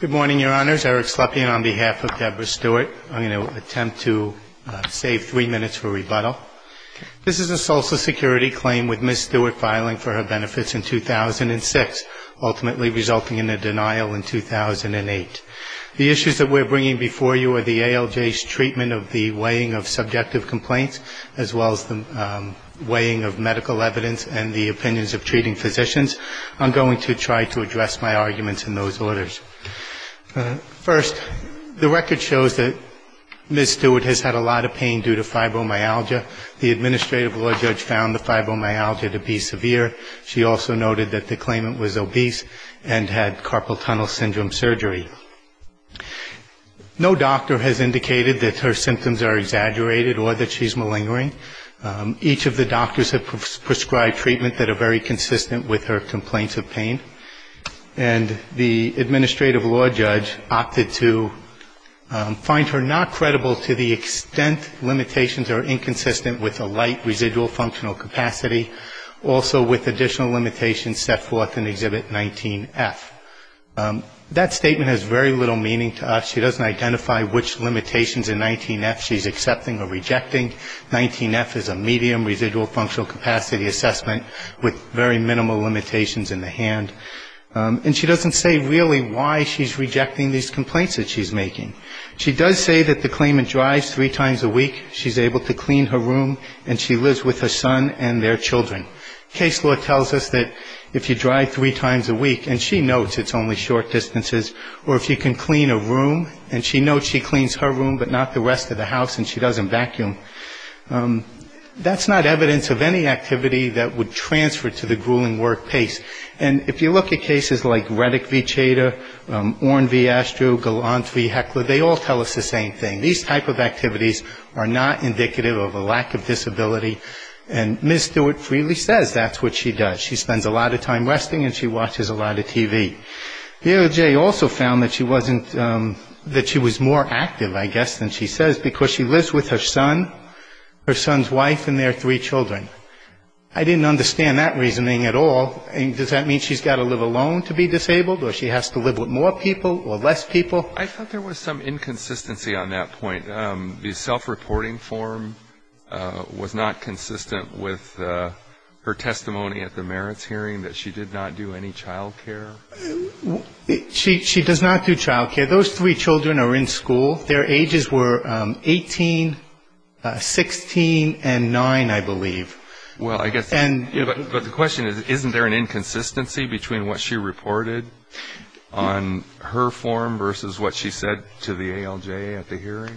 Good morning, Your Honors. Eric Slepian on behalf of Debra Stewart. I'm going to attempt to save three minutes for rebuttal. This is a Social Security claim with Ms. Stewart filing for her benefits in 2006, ultimately resulting in a denial in 2008. The issues that we're bringing before you are the ALJ's treatment of the weighing of subjective complaints as well as the weighing of medical evidence and the opinions of treating physicians. I'm going to try to address my arguments in those orders. First, the record shows that Ms. Stewart has had a lot of pain due to fibromyalgia. The Administrative Law Judge found the fibromyalgia to be severe. She also noted that the claimant was obese and had carpal tunnel syndrome surgery. No doctor has indicated that her symptoms are exaggerated or that she's malingering. Each of the doctors have prescribed treatment that are very consistent with her complaints of pain. And the Administrative Law Judge opted to find her not credible to the extent limitations are inconsistent with a light residual functional capacity, also with additional limitations set forth in Exhibit 19F. That statement has very little meaning to us. She doesn't identify which limitations in 19F she's accepting or rejecting. 19F is a medium residual functional capacity assessment with very minimal limitations in the hand. And she doesn't say really why she's rejecting these complaints that she's making. She does say that the claimant drives three times a week, she's able to clean her room, and she lives with her son and their children. Case law tells us that if you drive three times a week, and she notes it's only short distances, or if you can clean a room, and she notes she cleans her room, but not the rest of the house, and she doesn't vacuum, that's not evidence of any activity that would transfer to the grueling work pace. And if you look at cases like Redick v. Chader, Oren v. Astro, Galant v. Heckler, they all tell us the same thing. These type of activities are not indicative of a lack of disability. And Ms. Stewart freely says that's what she does. She spends a lot of time resting and she watches a lot of TV. DOJ also found that she wasn't, that she was more active, I guess, than she says, because she lives with her son, her son's wife, and their three children. I didn't understand that reasoning at all. Does that mean she's got to live alone to be disabled, or she has to live with more people or less people? I thought there was some inconsistency on that point. The self-reporting form was not She does not do child care. Those three children are in school. Their ages were 18, 16, and 9, I believe. Well, I guess, but the question is, isn't there an inconsistency between what she reported on her form versus what she said to the ALJ at the hearing?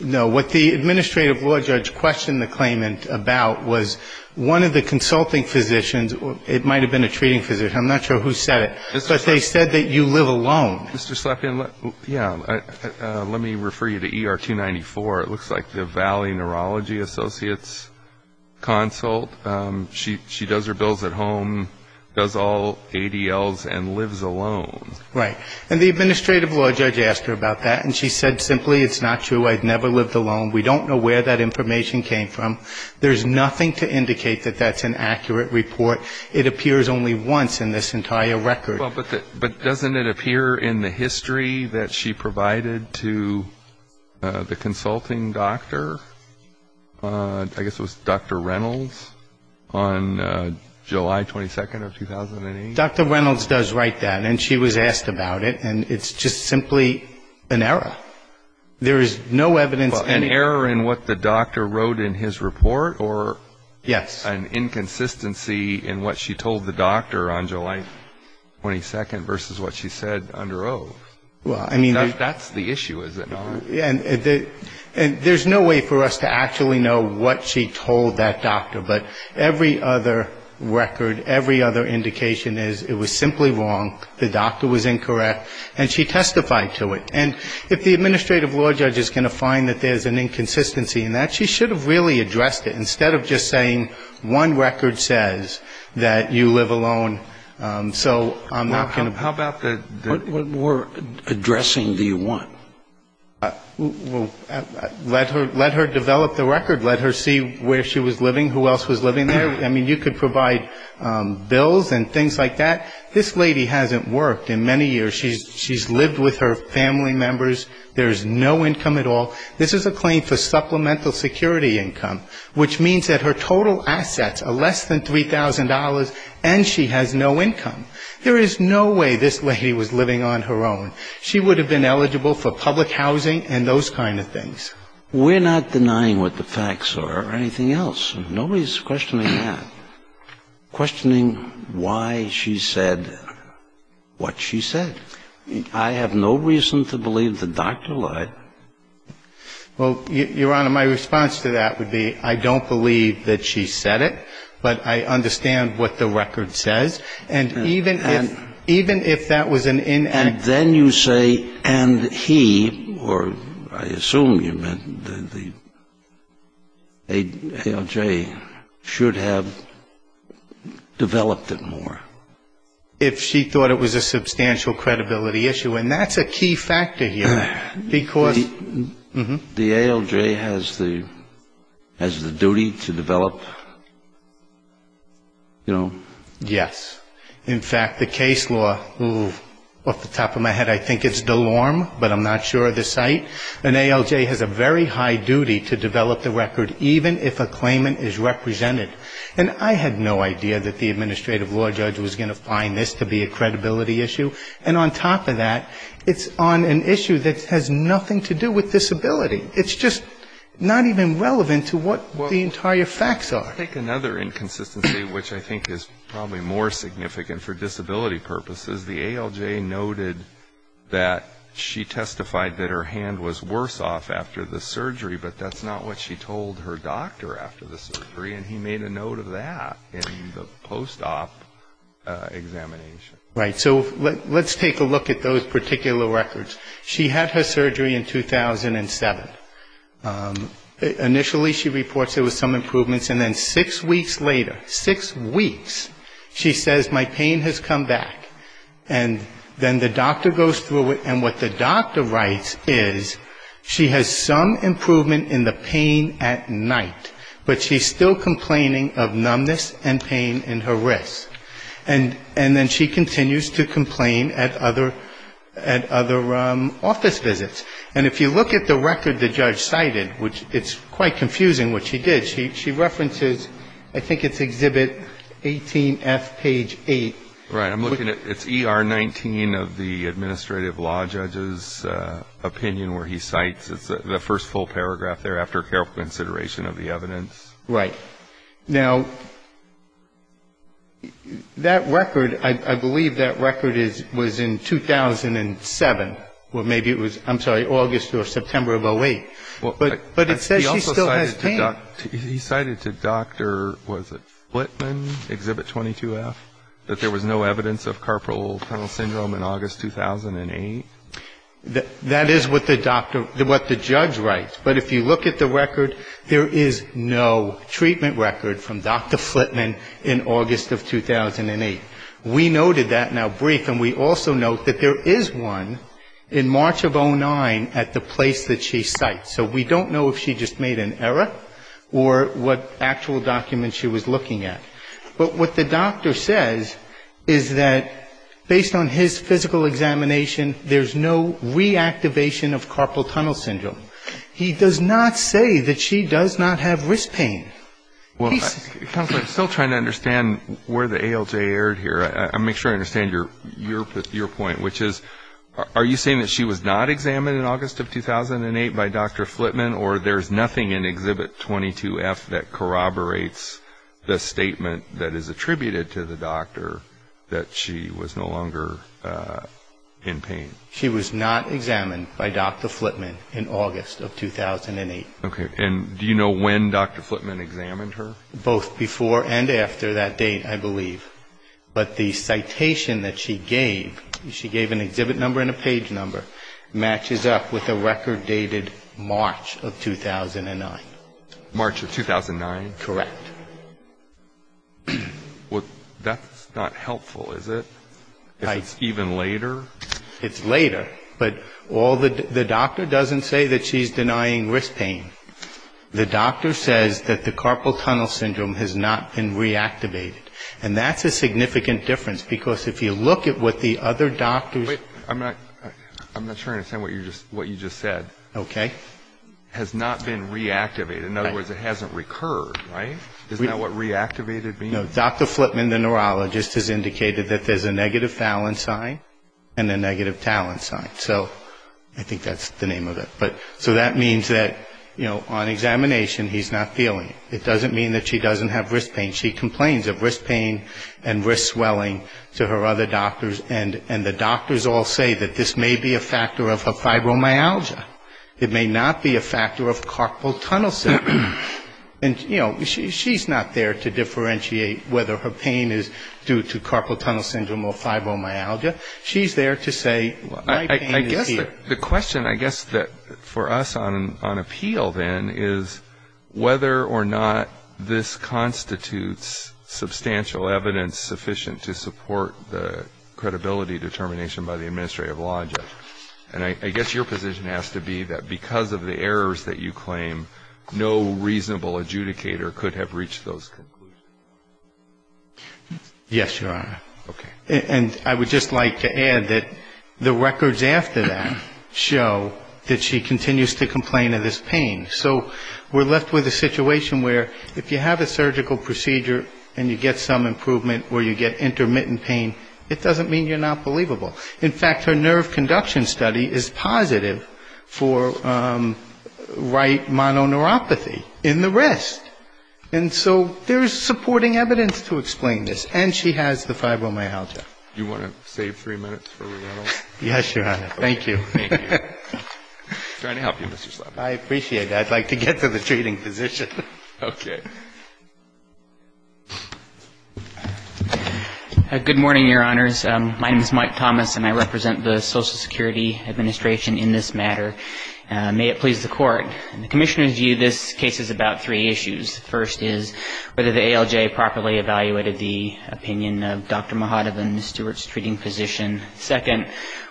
No. What the administrative law judge questioned the claimant about was one of the consulting physicians. It might have been a treating physician. I'm not sure who said it. But they said that you live alone. Mr. Slapien, let me refer you to ER 294. It looks like the Valley Neurology Associates consult. She does her bills at home, does all ADLs, and lives alone. Right. And the administrative law judge asked her about that, and she said simply, it's not true. I've never lived alone. We don't know where that information came from. There's nothing to do with that report. It appears only once in this entire record. But doesn't it appear in the history that she provided to the consulting doctor? I guess it was Dr. Reynolds on July 22nd of 2008? Dr. Reynolds does write that, and she was asked about it, and it's just simply an error. There is no evidence in what the doctor wrote in his report or an inconsistency in what she told the doctor on July 22nd versus what she said under oath. That's the issue, is it not? And there's no way for us to actually know what she told that doctor. But every other record, every other indication is it was simply wrong, the doctor was incorrect, and she testified to it. And if the record is an inconsistency in that, she should have really addressed it, instead of just saying one record says that you live alone, so I'm not going to ---- How about the ---- What more addressing do you want? Let her develop the record. Let her see where she was living, who else was living there. I mean, you could provide bills and things like that. This lady hasn't worked in many years. She's lived with her family members. There is no income at all. This is a claim for supplemental security income, which means that her total assets are less than $3,000, and she has no income. There is no way this lady was living on her own. She would have been eligible for public housing and those kind of things. We're not denying what the facts are or anything else. Nobody's questioning that, questioning why she said what she said. I have no reason to believe the doctor lied. Well, Your Honor, my response to that would be I don't believe that she said it, but I understand what the record says. And even if ---- And then you say and he, or I assume you meant the ALJ, should have developed it more. If she thought it was a substantial credibility issue. And that's a key factor here. Because the ALJ has the duty to develop, you know. Yes. In fact, the case law, off the top of my head, I think it's Delorme, but I'm not sure of the site. An ALJ has a very high duty to develop the record, even if a claimant is represented. And I had no idea that the administrative law judge was going to find this to be a credibility issue. And on top of that, it's on an issue that has nothing to do with disability. It's just not even relevant to what the entire facts are. I think another inconsistency, which I think is probably more significant for disability purposes, the ALJ noted that she testified that her hand was worse off after the surgery, but that's not what she told her doctor after the surgery, and he made a note of that in the post-op examination. Right. So let's take a look at those particular records. She had her surgery in 2007. Initially she reports there was some improvements, and then six weeks later, six weeks, she says my pain has come back. And then the doctor goes through it, and what the doctor writes is she has some improvement in the hand, but she's still complaining of numbness and pain in her wrist. And then she continues to complain at other office visits. And if you look at the record the judge cited, which it's quite confusing what she did, she references, I think it's Exhibit 18F, page 8. Right. I'm looking at, it's ER 19 of the administrative law judge's opinion where he cites the first full paragraph there after careful consideration of the evidence. Right. Now, that record, I believe that record was in 2007, or maybe it was, I'm sorry, August or September of 08. But it says she still has pain. He cited to Dr. was it Flitman, Exhibit 22F, that there was no evidence of carpal tunnel syndrome in August 2008. That is what the doctor, what the judge writes. But if you look at the record, there is no treatment record from Dr. Flitman in August of 2008. We noted that in our brief, and we also note that there is one in March of 09 at the place that she cites. So we don't know if she just made an error or what actual document she was looking at. But what the judge says is there is no medical examination, there is no reactivation of carpal tunnel syndrome. He does not say that she does not have wrist pain. I'm still trying to understand where the ALJ erred here. I want to make sure I understand your point, which is, are you saying that she was not examined in August of 2008 by Dr. Flitman, or there is nothing in Exhibit 22F that corroborates the error in pain? She was not examined by Dr. Flitman in August of 2008. Okay. And do you know when Dr. Flitman examined her? Both before and after that date, I believe. But the citation that she gave, she gave an exhibit number and a page number, matches up with a record dated March of 2009. Correct. Well, that's not helpful, is it? If it's even later? It's later. But the doctor doesn't say that she's denying wrist pain. The doctor says that the carpal tunnel syndrome has not been reactivated. And that's a significant difference, because if you look at what the other doctors Wait. I'm not sure I understand what you just said. Okay. Has not been reactivated. In other words, it hasn't recurred, right? Isn't that what reactivated means? No. Dr. Flitman, the neurologist, has indicated that there's a negative Fallon sign and a negative Talon sign. So I think that's the name of it. So that means that on examination, he's not feeling it. It doesn't mean that she doesn't have wrist pain. She complains of wrist pain and wrist swelling to her other doctors, and the doctors all say that this may be a factor of fibromyalgia. It may not be a factor of carpal tunnel syndrome. And, you know, she's not there to differentiate whether her pain is due to carpal tunnel syndrome or fibromyalgia. She's there to say my pain is here. The question, I guess, for us on appeal, then, is whether or not this constitutes substantial evidence sufficient to support the credibility determination by the administrative law judge. And I guess your position has to be that because of the errors that you claim, no reasonable adjudicator could have reached those conclusions. Yes, Your Honor. Okay. And I would just like to add that the records after that show that she continues to complain of this pain. So we're left with a situation where it doesn't mean you're not believable. In fact, her nerve conduction study is positive for right mononeuropathy in the wrist. And so there's supporting evidence to explain this. And she has the fibromyalgia. Do you want to save three minutes for rebuttal? Yes, Your Honor. Thank you. I appreciate that. I'd like to get to the treating physician. Okay. Good morning, Your Honors. My name is Mike Thomas, and I represent the Social Security Administration in this matter. May it please the Court. In the Commissioner's view, this case is about three issues. First is whether the ALJ properly evaluated the opinion of Dr. Mahadov and Ms. Stewart's treating physician. Second,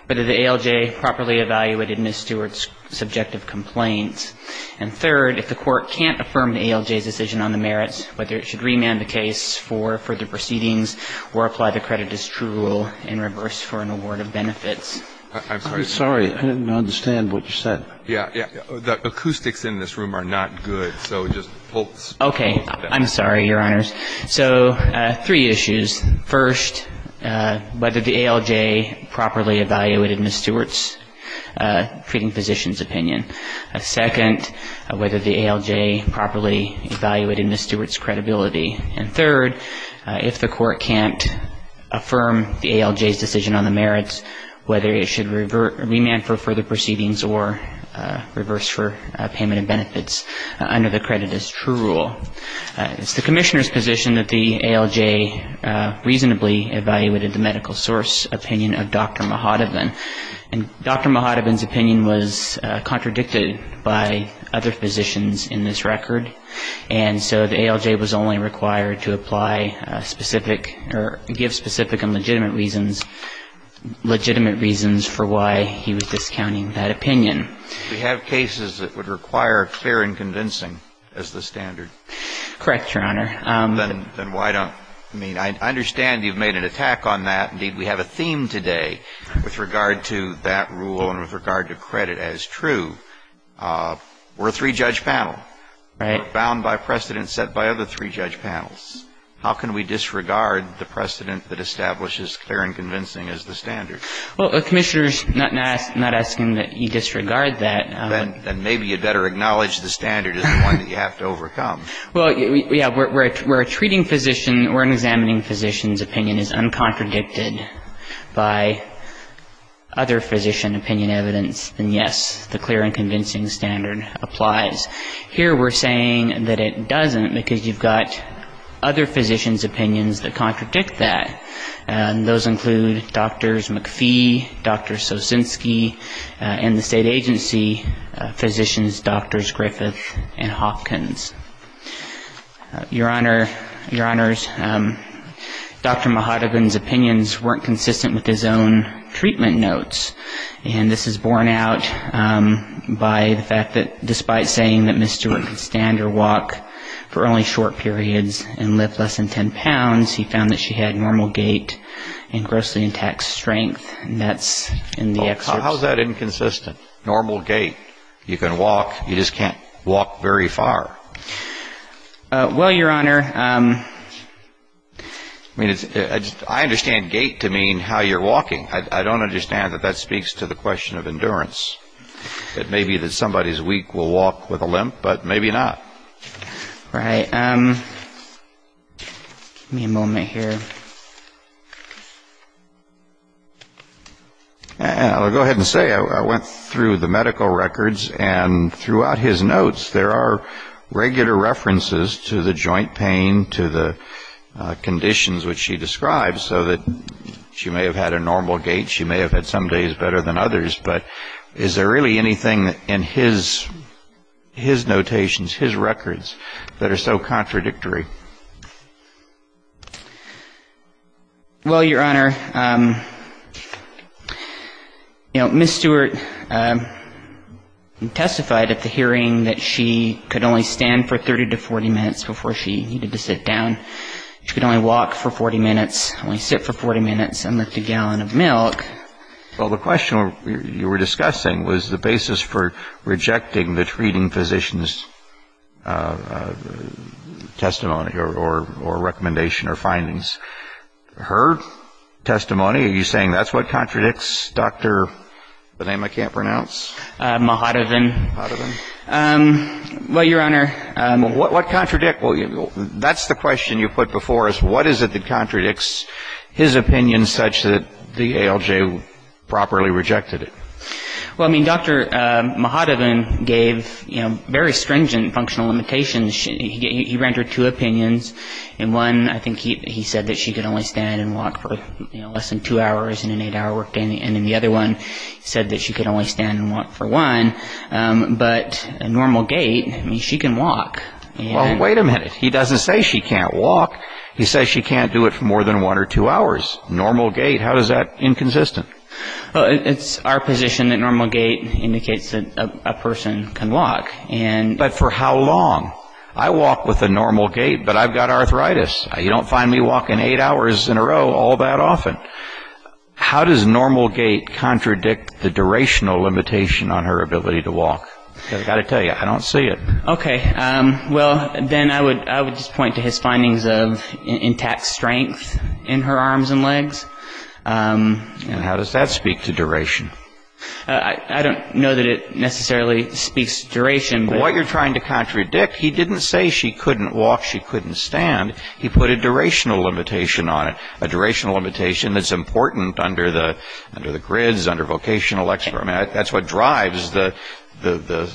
whether the ALJ properly evaluated Ms. Stewart's subjective complaints. And third, if the Court can't affirm the ALJ's decision on the merits, whether it should remand the case for further proceedings or apply the credit as true in reverse for an award of benefits. I'm sorry. I didn't understand what you said. Yeah, yeah. The acoustics in this room are not good, so just pull it down. Okay. I'm sorry, Your Honors. So three issues. First, whether the ALJ properly evaluated Ms. Stewart's treating physician's opinion. Second, whether the ALJ properly evaluated Ms. Stewart's credibility. And third, if the Court can't affirm the ALJ's decision on the merits, whether it should remand for further proceedings or reverse for payment of benefits under the credit as true rule. It's the Commissioner's position that the ALJ reasonably evaluated the medical source opinion of Dr. Mahadov. And Dr. Mahadov's opinion was contradicted by other physicians in this record. And so the ALJ was only required to apply specific or give specific and legitimate reasons for why he was discounting that opinion. We have cases that would require clear and convincing as the standard. Correct, Your Honor. Then why don't you mean, I understand you've made an attack on that. Indeed, we have a theme today with regard to that rule and with regard to credit as true. We're a three-judge panel. Right. Bound by precedent set by other three-judge panels. How can we disregard the precedent that establishes clear and convincing as the standard? Well, the Commissioner's not asking that you disregard that. Then maybe you'd better acknowledge the standard is the one that you have to overcome. Well, yeah, where a treating physician or an examining physician's opinion is uncontradicted by other physician opinion evidence, then, yes, the clear and convincing standard applies. Here we're saying that it doesn't because you've got other physicians' opinions that contradict that. And those include Drs. McPhee, Dr. Sosinski, and the state agency physicians, Drs. Griffith and Hopkins. Your Honor, your Honors, Dr. Mahatogun's opinions weren't consistent with his own treatment notes. And this is borne out by the fact that despite saying that Ms. Stewart could stand or walk for only short periods and lift less than 10 pounds, he found that she had normal gait and grossly intact strength. And that's in the excerpts. How is that inconsistent? Normal gait? You can walk. You just can't walk very far. Well, Your Honor, I mean, I understand gait to mean how you're walking. I don't understand that that speaks to the question of endurance. It may be that somebody's weak will walk with a limp, but maybe not. All right. Give me a moment here. I'll go ahead and say I went through the medical records, and throughout his notes, there are regular references to the joint pain, to the conditions which she describes, so that she may have had a normal gait. She may have had some days better than others. But is there really anything in his notations, his records, that are so contradictory? Well, Your Honor, you know, Ms. Stewart testified at the hearing that she could only stand for 30 to 40 minutes before she needed to sit down. She could only walk for 40 minutes, only sit for 40 minutes, and lift a gallon of milk. Well, the question you were discussing was the basis for rejecting the treating physician's testimony or recommendation or findings. Her testimony, are you saying that's what contradicts Dr. the name I can't pronounce? Mahatovin. Mahatovin. Well, Your Honor. What contradicts? That's the question you put before us. What is it that contradicts his opinion such that the ALJ properly rejected it? Well, I mean, Dr. Mahatovin gave, you know, very stringent functional limitations. He rendered two opinions. In one, I think he said that she could only stand and walk for less than two hours in an eight-hour workday, and in the other one, he said that she could only stand and walk for one. But a normal gait, I mean, she can walk. Well, wait a minute. He doesn't say she can't walk. He says she can't do it for more than one or two hours. Normal gait, how is that inconsistent? It's our position that normal gait indicates that a person can walk. But for how long? I walk with a normal gait, but I've got arthritis. You don't find me walking eight hours in a row all that often. How does normal gait contradict the durational limitation on her ability to walk? Because I've got to tell you, I don't see it. Okay. Well, then I would just point to his findings of intact strength in her arms and legs. And how does that speak to duration? I don't know that it necessarily speaks to duration. What you're trying to contradict, he didn't say she couldn't walk, she couldn't stand. He put a durational limitation on it, a durational limitation that's important under the grids, under vocational experiment. That's what drives the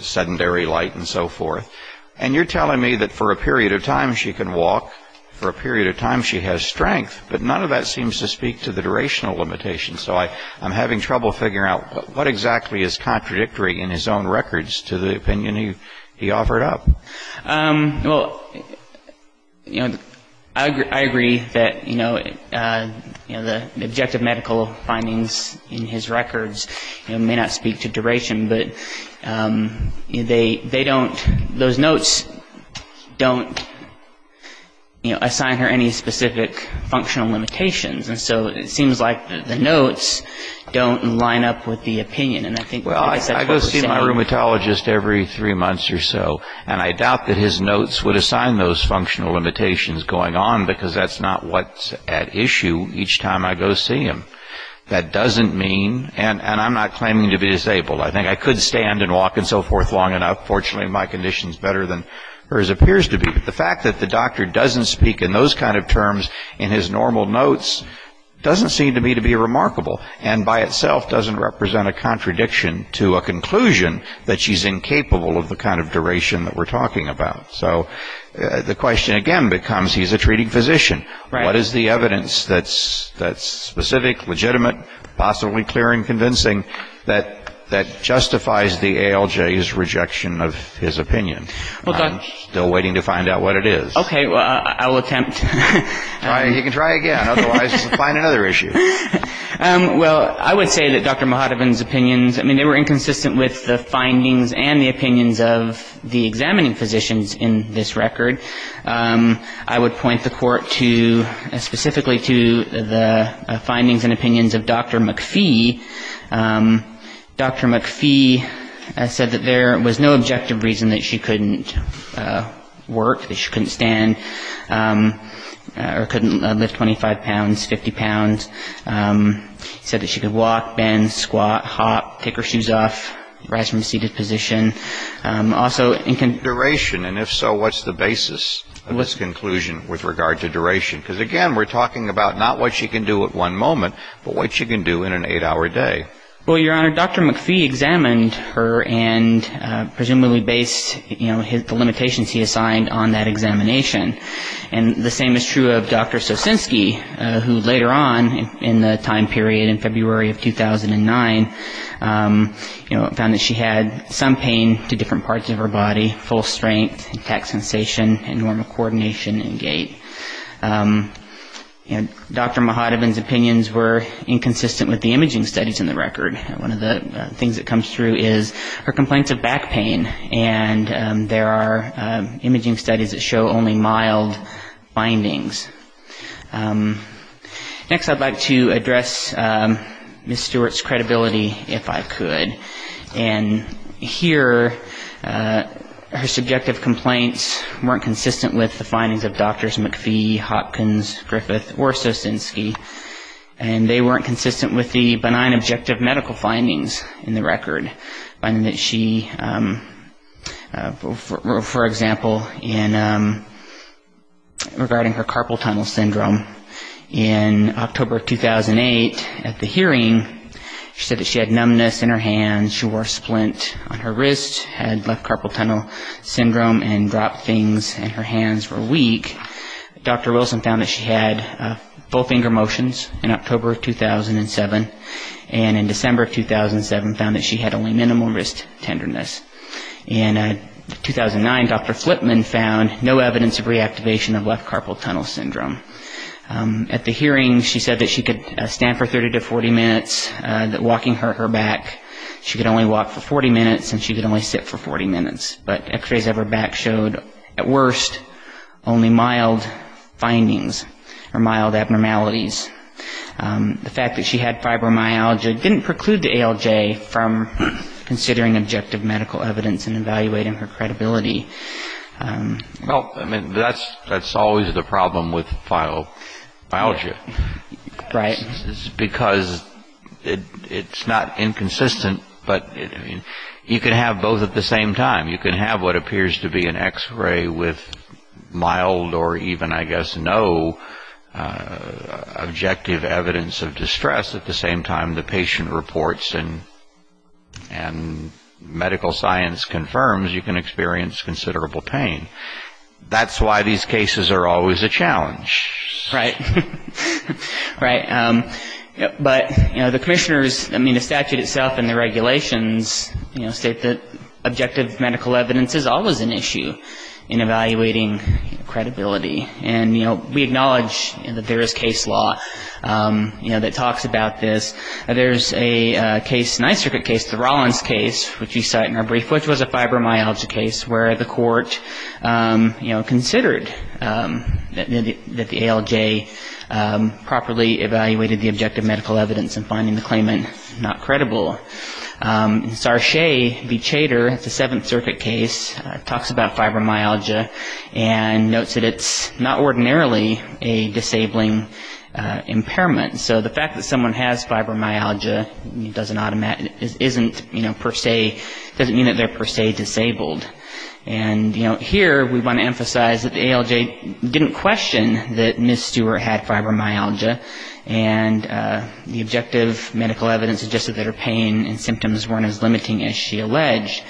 sedentary light and so forth. And you're telling me that for a period of time she can walk, for a period of time she has strength, but none of that seems to speak to the durational limitation. So I'm having trouble figuring out what exactly is contradictory in his own records to the opinion he offered up. Well, you know, I agree that, you know, the objective medical findings in his records may not speak to duration, but they don't, those notes don't assign her any specific functional limitations. And so it seems like the notes don't line up with the opinion. Well, I go see my rheumatologist every three months or so, and I doubt that his notes would assign those functional limitations going on because that's not what's at issue each time I go see him. That doesn't mean, and I'm not claiming to be disabled. I think I could stand and walk and so forth long enough. Fortunately, my condition's better than hers appears to be. But the fact that the doctor doesn't speak in those kind of terms in his normal notes doesn't seem to me to be remarkable and by itself doesn't represent a contradiction to a conclusion that she's incapable of the kind of duration that we're talking about. So the question again becomes he's a treating physician. What is the evidence that's specific, legitimate, possibly clear and convincing that justifies the ALJ's rejection of his opinion? I'm still waiting to find out what it is. Okay, well, I'll attempt. You can try again. Otherwise, we'll find another issue. Well, I would say that Dr. Mohodovan's opinions, I mean, they were inconsistent with the findings and the opinions of the examining physicians in this record. I would point the Court to specifically to the findings and opinions of Dr. McPhee. Dr. McPhee said that there was no objective reason that she couldn't work, that she couldn't stand. Or couldn't lift 25 pounds, 50 pounds. Said that she could walk, bend, squat, hop, take her shoes off, rise from a seated position. Also, duration, and if so, what's the basis of this conclusion with regard to duration? Because, again, we're talking about not what she can do at one moment, but what she can do in an eight-hour day. Well, Your Honor, Dr. McPhee examined her and presumably based the limitations he assigned on that examination. And the same is true of Dr. Sosinski, who later on in the time period, in February of 2009, found that she had some pain to different parts of her body, full strength, intact sensation, and normal coordination and gait. And Dr. Mahadevan's opinions were inconsistent with the imaging studies in the record. One of the things that comes through is her complaints of back pain. And there are imaging studies that show only mild findings. Next, I'd like to address Ms. Stewart's credibility, if I could. And here, her subjective complaints weren't consistent with the findings of Drs. McPhee, Hopkins, Griffith, or Sosinski. And they weren't consistent with the benign objective medical findings in the record. Finding that she, for example, regarding her carpal tunnel syndrome, in October of 2008 at the hearing, she said that she had numbness in her hands, she wore a splint on her wrist, had left carpal tunnel syndrome, and dropped things, and her hands were weak. Dr. Wilson found that she had full finger motions in October of 2007, and in December of 2007 found that she had only minimal wrist tenderness. In 2009, Dr. Flipman found no evidence of reactivation of left carpal tunnel syndrome. At the hearing, she said that she could stand for 30 to 40 minutes, that walking hurt her back. She could only walk for 40 minutes, and she could only sit for 40 minutes. But X-rays of her back showed, at worst, only mild findings or mild abnormalities. The fact that she had fibromyalgia didn't preclude the ALJ from considering objective medical evidence and evaluating her credibility. Well, I mean, that's always the problem with fibromyalgia. Right. Because it's not inconsistent, but you can have both at the same time. You can have what appears to be an X-ray with mild or even, I guess, no objective evidence of distress, at the same time the patient reports and medical science confirms you can experience considerable pain. That's why these cases are always a challenge. Right. But the commissioners, I mean, the statute itself and the regulations state that objective medical evidence is always an issue in evaluating credibility. And, you know, we acknowledge that there is case law, you know, that talks about this. There's a case, a Ninth Circuit case, the Rollins case, which we cite in our brief, which was a fibromyalgia case, where the court, you know, considered that the ALJ properly evaluated the objective medical evidence and finding the claimant not credible. And Sarchay v. Chater, the Seventh Circuit case, talks about fibromyalgia and notes that it's not ordinarily a disabling impairment. So the fact that someone has fibromyalgia doesn't automatically, isn't, you know, per se, doesn't mean that they're per se disabled. And, you know, here we want to emphasize that the ALJ didn't question that Ms. Stewart had fibromyalgia and the objective medical evidence suggested that her pain and symptoms weren't as limiting as she alleged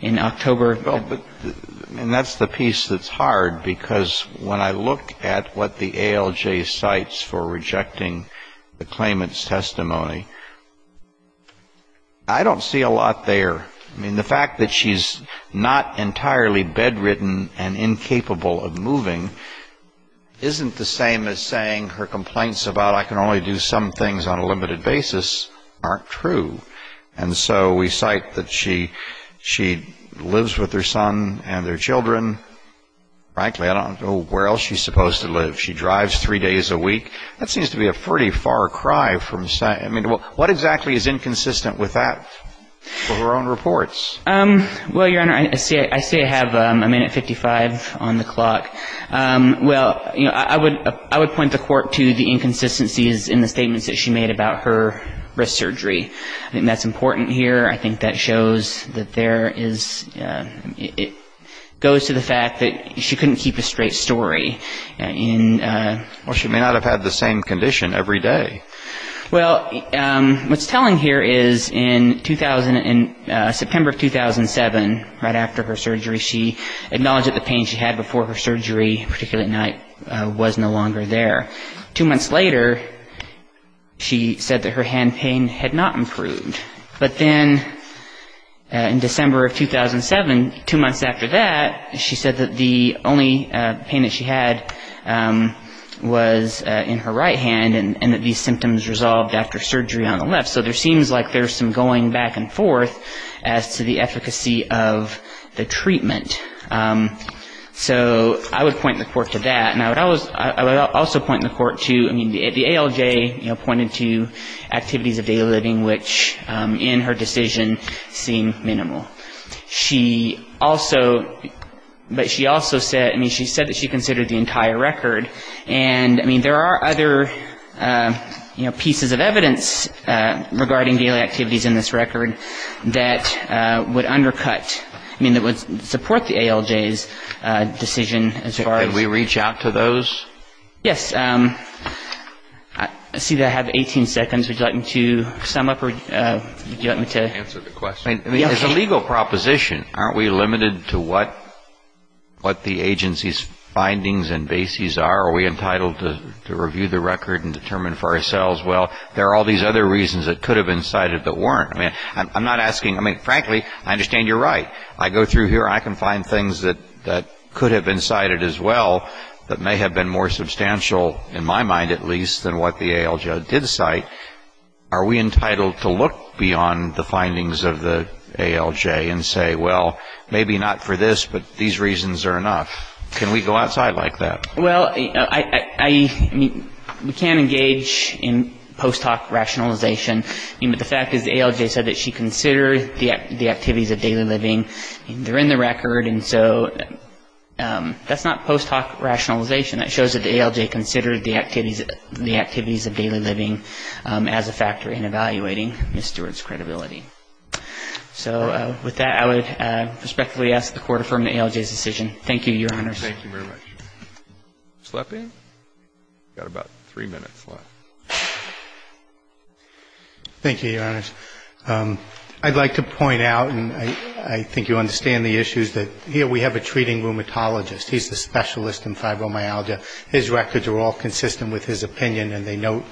in October. Well, and that's the piece that's hard, because when I look at what the ALJ cites for rejecting the claimant's testimony, I don't see a lot there. I mean, the fact that she's not entirely bedridden and incapable of moving isn't the same as saying her complaints about, I can only do some things on a limited basis, aren't true. And so we cite that she lives with her son and their children. Frankly, I don't know where else she's supposed to live. She drives three days a week. That seems to be a pretty far cry from saying, I mean, what exactly is inconsistent with that? For her own reports. Well, Your Honor, I say I have a minute 55 on the clock. Well, you know, I would point the court to the inconsistencies in the statements that she made about her wrist surgery. I think that's important here. I think that shows that there is, it goes to the fact that she couldn't keep a straight story. Well, she may not have had the same condition every day. Well, what's telling here is in September of 2007, right after her surgery, she acknowledged that the pain she had before her surgery, particularly at night, was no longer there. Two months later, she said that her hand pain had not improved. But then in December of 2007, two months after that, she said that the only pain that she had was in her right hand and that these symptoms resolved after surgery on the left. So there seems like there's some going back and forth as to the efficacy of the treatment. So I would point the court to that. And I would also point the court to, I mean, the ALJ pointed to activities of daily living, which in her decision seem minimal. She also, but she also said, I mean, she said that she considered the entire record. And, I mean, there are other, you know, pieces of evidence regarding daily activities in this record that would undercut, I mean, that would support the ALJ's decision as far as... Can we reach out to those? Yes. I see that I have 18 seconds. Would you like me to sum up or do you want me to... Answer the question. I mean, it's a legal proposition. Aren't we limited to what the agency's findings and bases are? Are we entitled to review the record and determine for ourselves, well, there are all these other reasons that could have been cited but weren't? I mean, I'm not asking, I mean, frankly, I understand you're right. I go through here and I can find things that could have been cited as well that may have been more substantial, in my mind at least, than what the ALJ did cite. Are we entitled to look beyond the findings of the ALJ and say, well, maybe not for this, but these reasons are enough? Can we go outside like that? Well, I mean, we can engage in post hoc rationalization. I mean, but the fact is the ALJ said that she considered the activities of daily living. They're in the record, and so that's not post hoc rationalization. It shows that the ALJ considered the activities of daily living as a factor in evaluating Ms. Stewart's credibility. So with that, I would respectfully ask the Court to affirm the ALJ's decision. Thank you, Your Honors. Thank you very much. Ms. Leppi, you've got about three minutes left. Thank you, Your Honors. I'd like to point out, and I think you understand the issues, that here we have a treating rheumatologist. He's a specialist in fibromyalgia. His records are all consistent with his opinion, and they note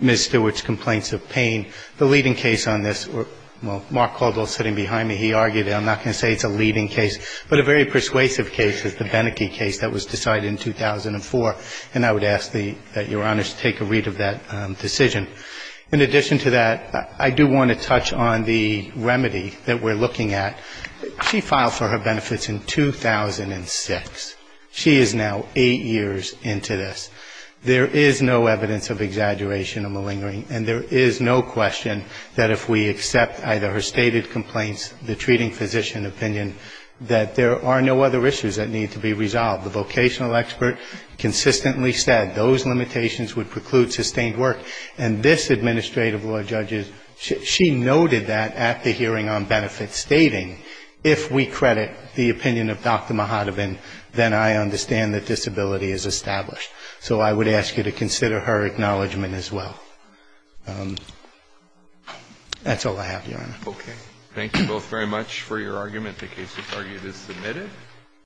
Ms. Stewart's complaints of pain. The leading case on this, well, Mark Caldwell is sitting behind me. He argued it. I'm not going to say it's a leading case, but a very persuasive case is the Beneke case that was decided in 2004, and I would ask that Your Honors take a read of that decision. In addition to that, I do want to touch on the remedy that we're looking at. She filed for her benefits in 2006. She is now eight years into this. There is no evidence of exaggeration or malingering, and there is no question that if we accept either her stated complaints, the treating physician opinion, that there are no other issues that need to be resolved. The vocational expert consistently said those limitations would preclude sustained work, and this administrative law judge, she noted that at the hearing on benefits, stating if we credit the opinion of Dr. Mahatobin, then I understand that disability is established. So I would ask you to consider her acknowledgment as well. That's all I have, Your Honor. Okay. Thank you both very much for your argument. The case to target is submitted.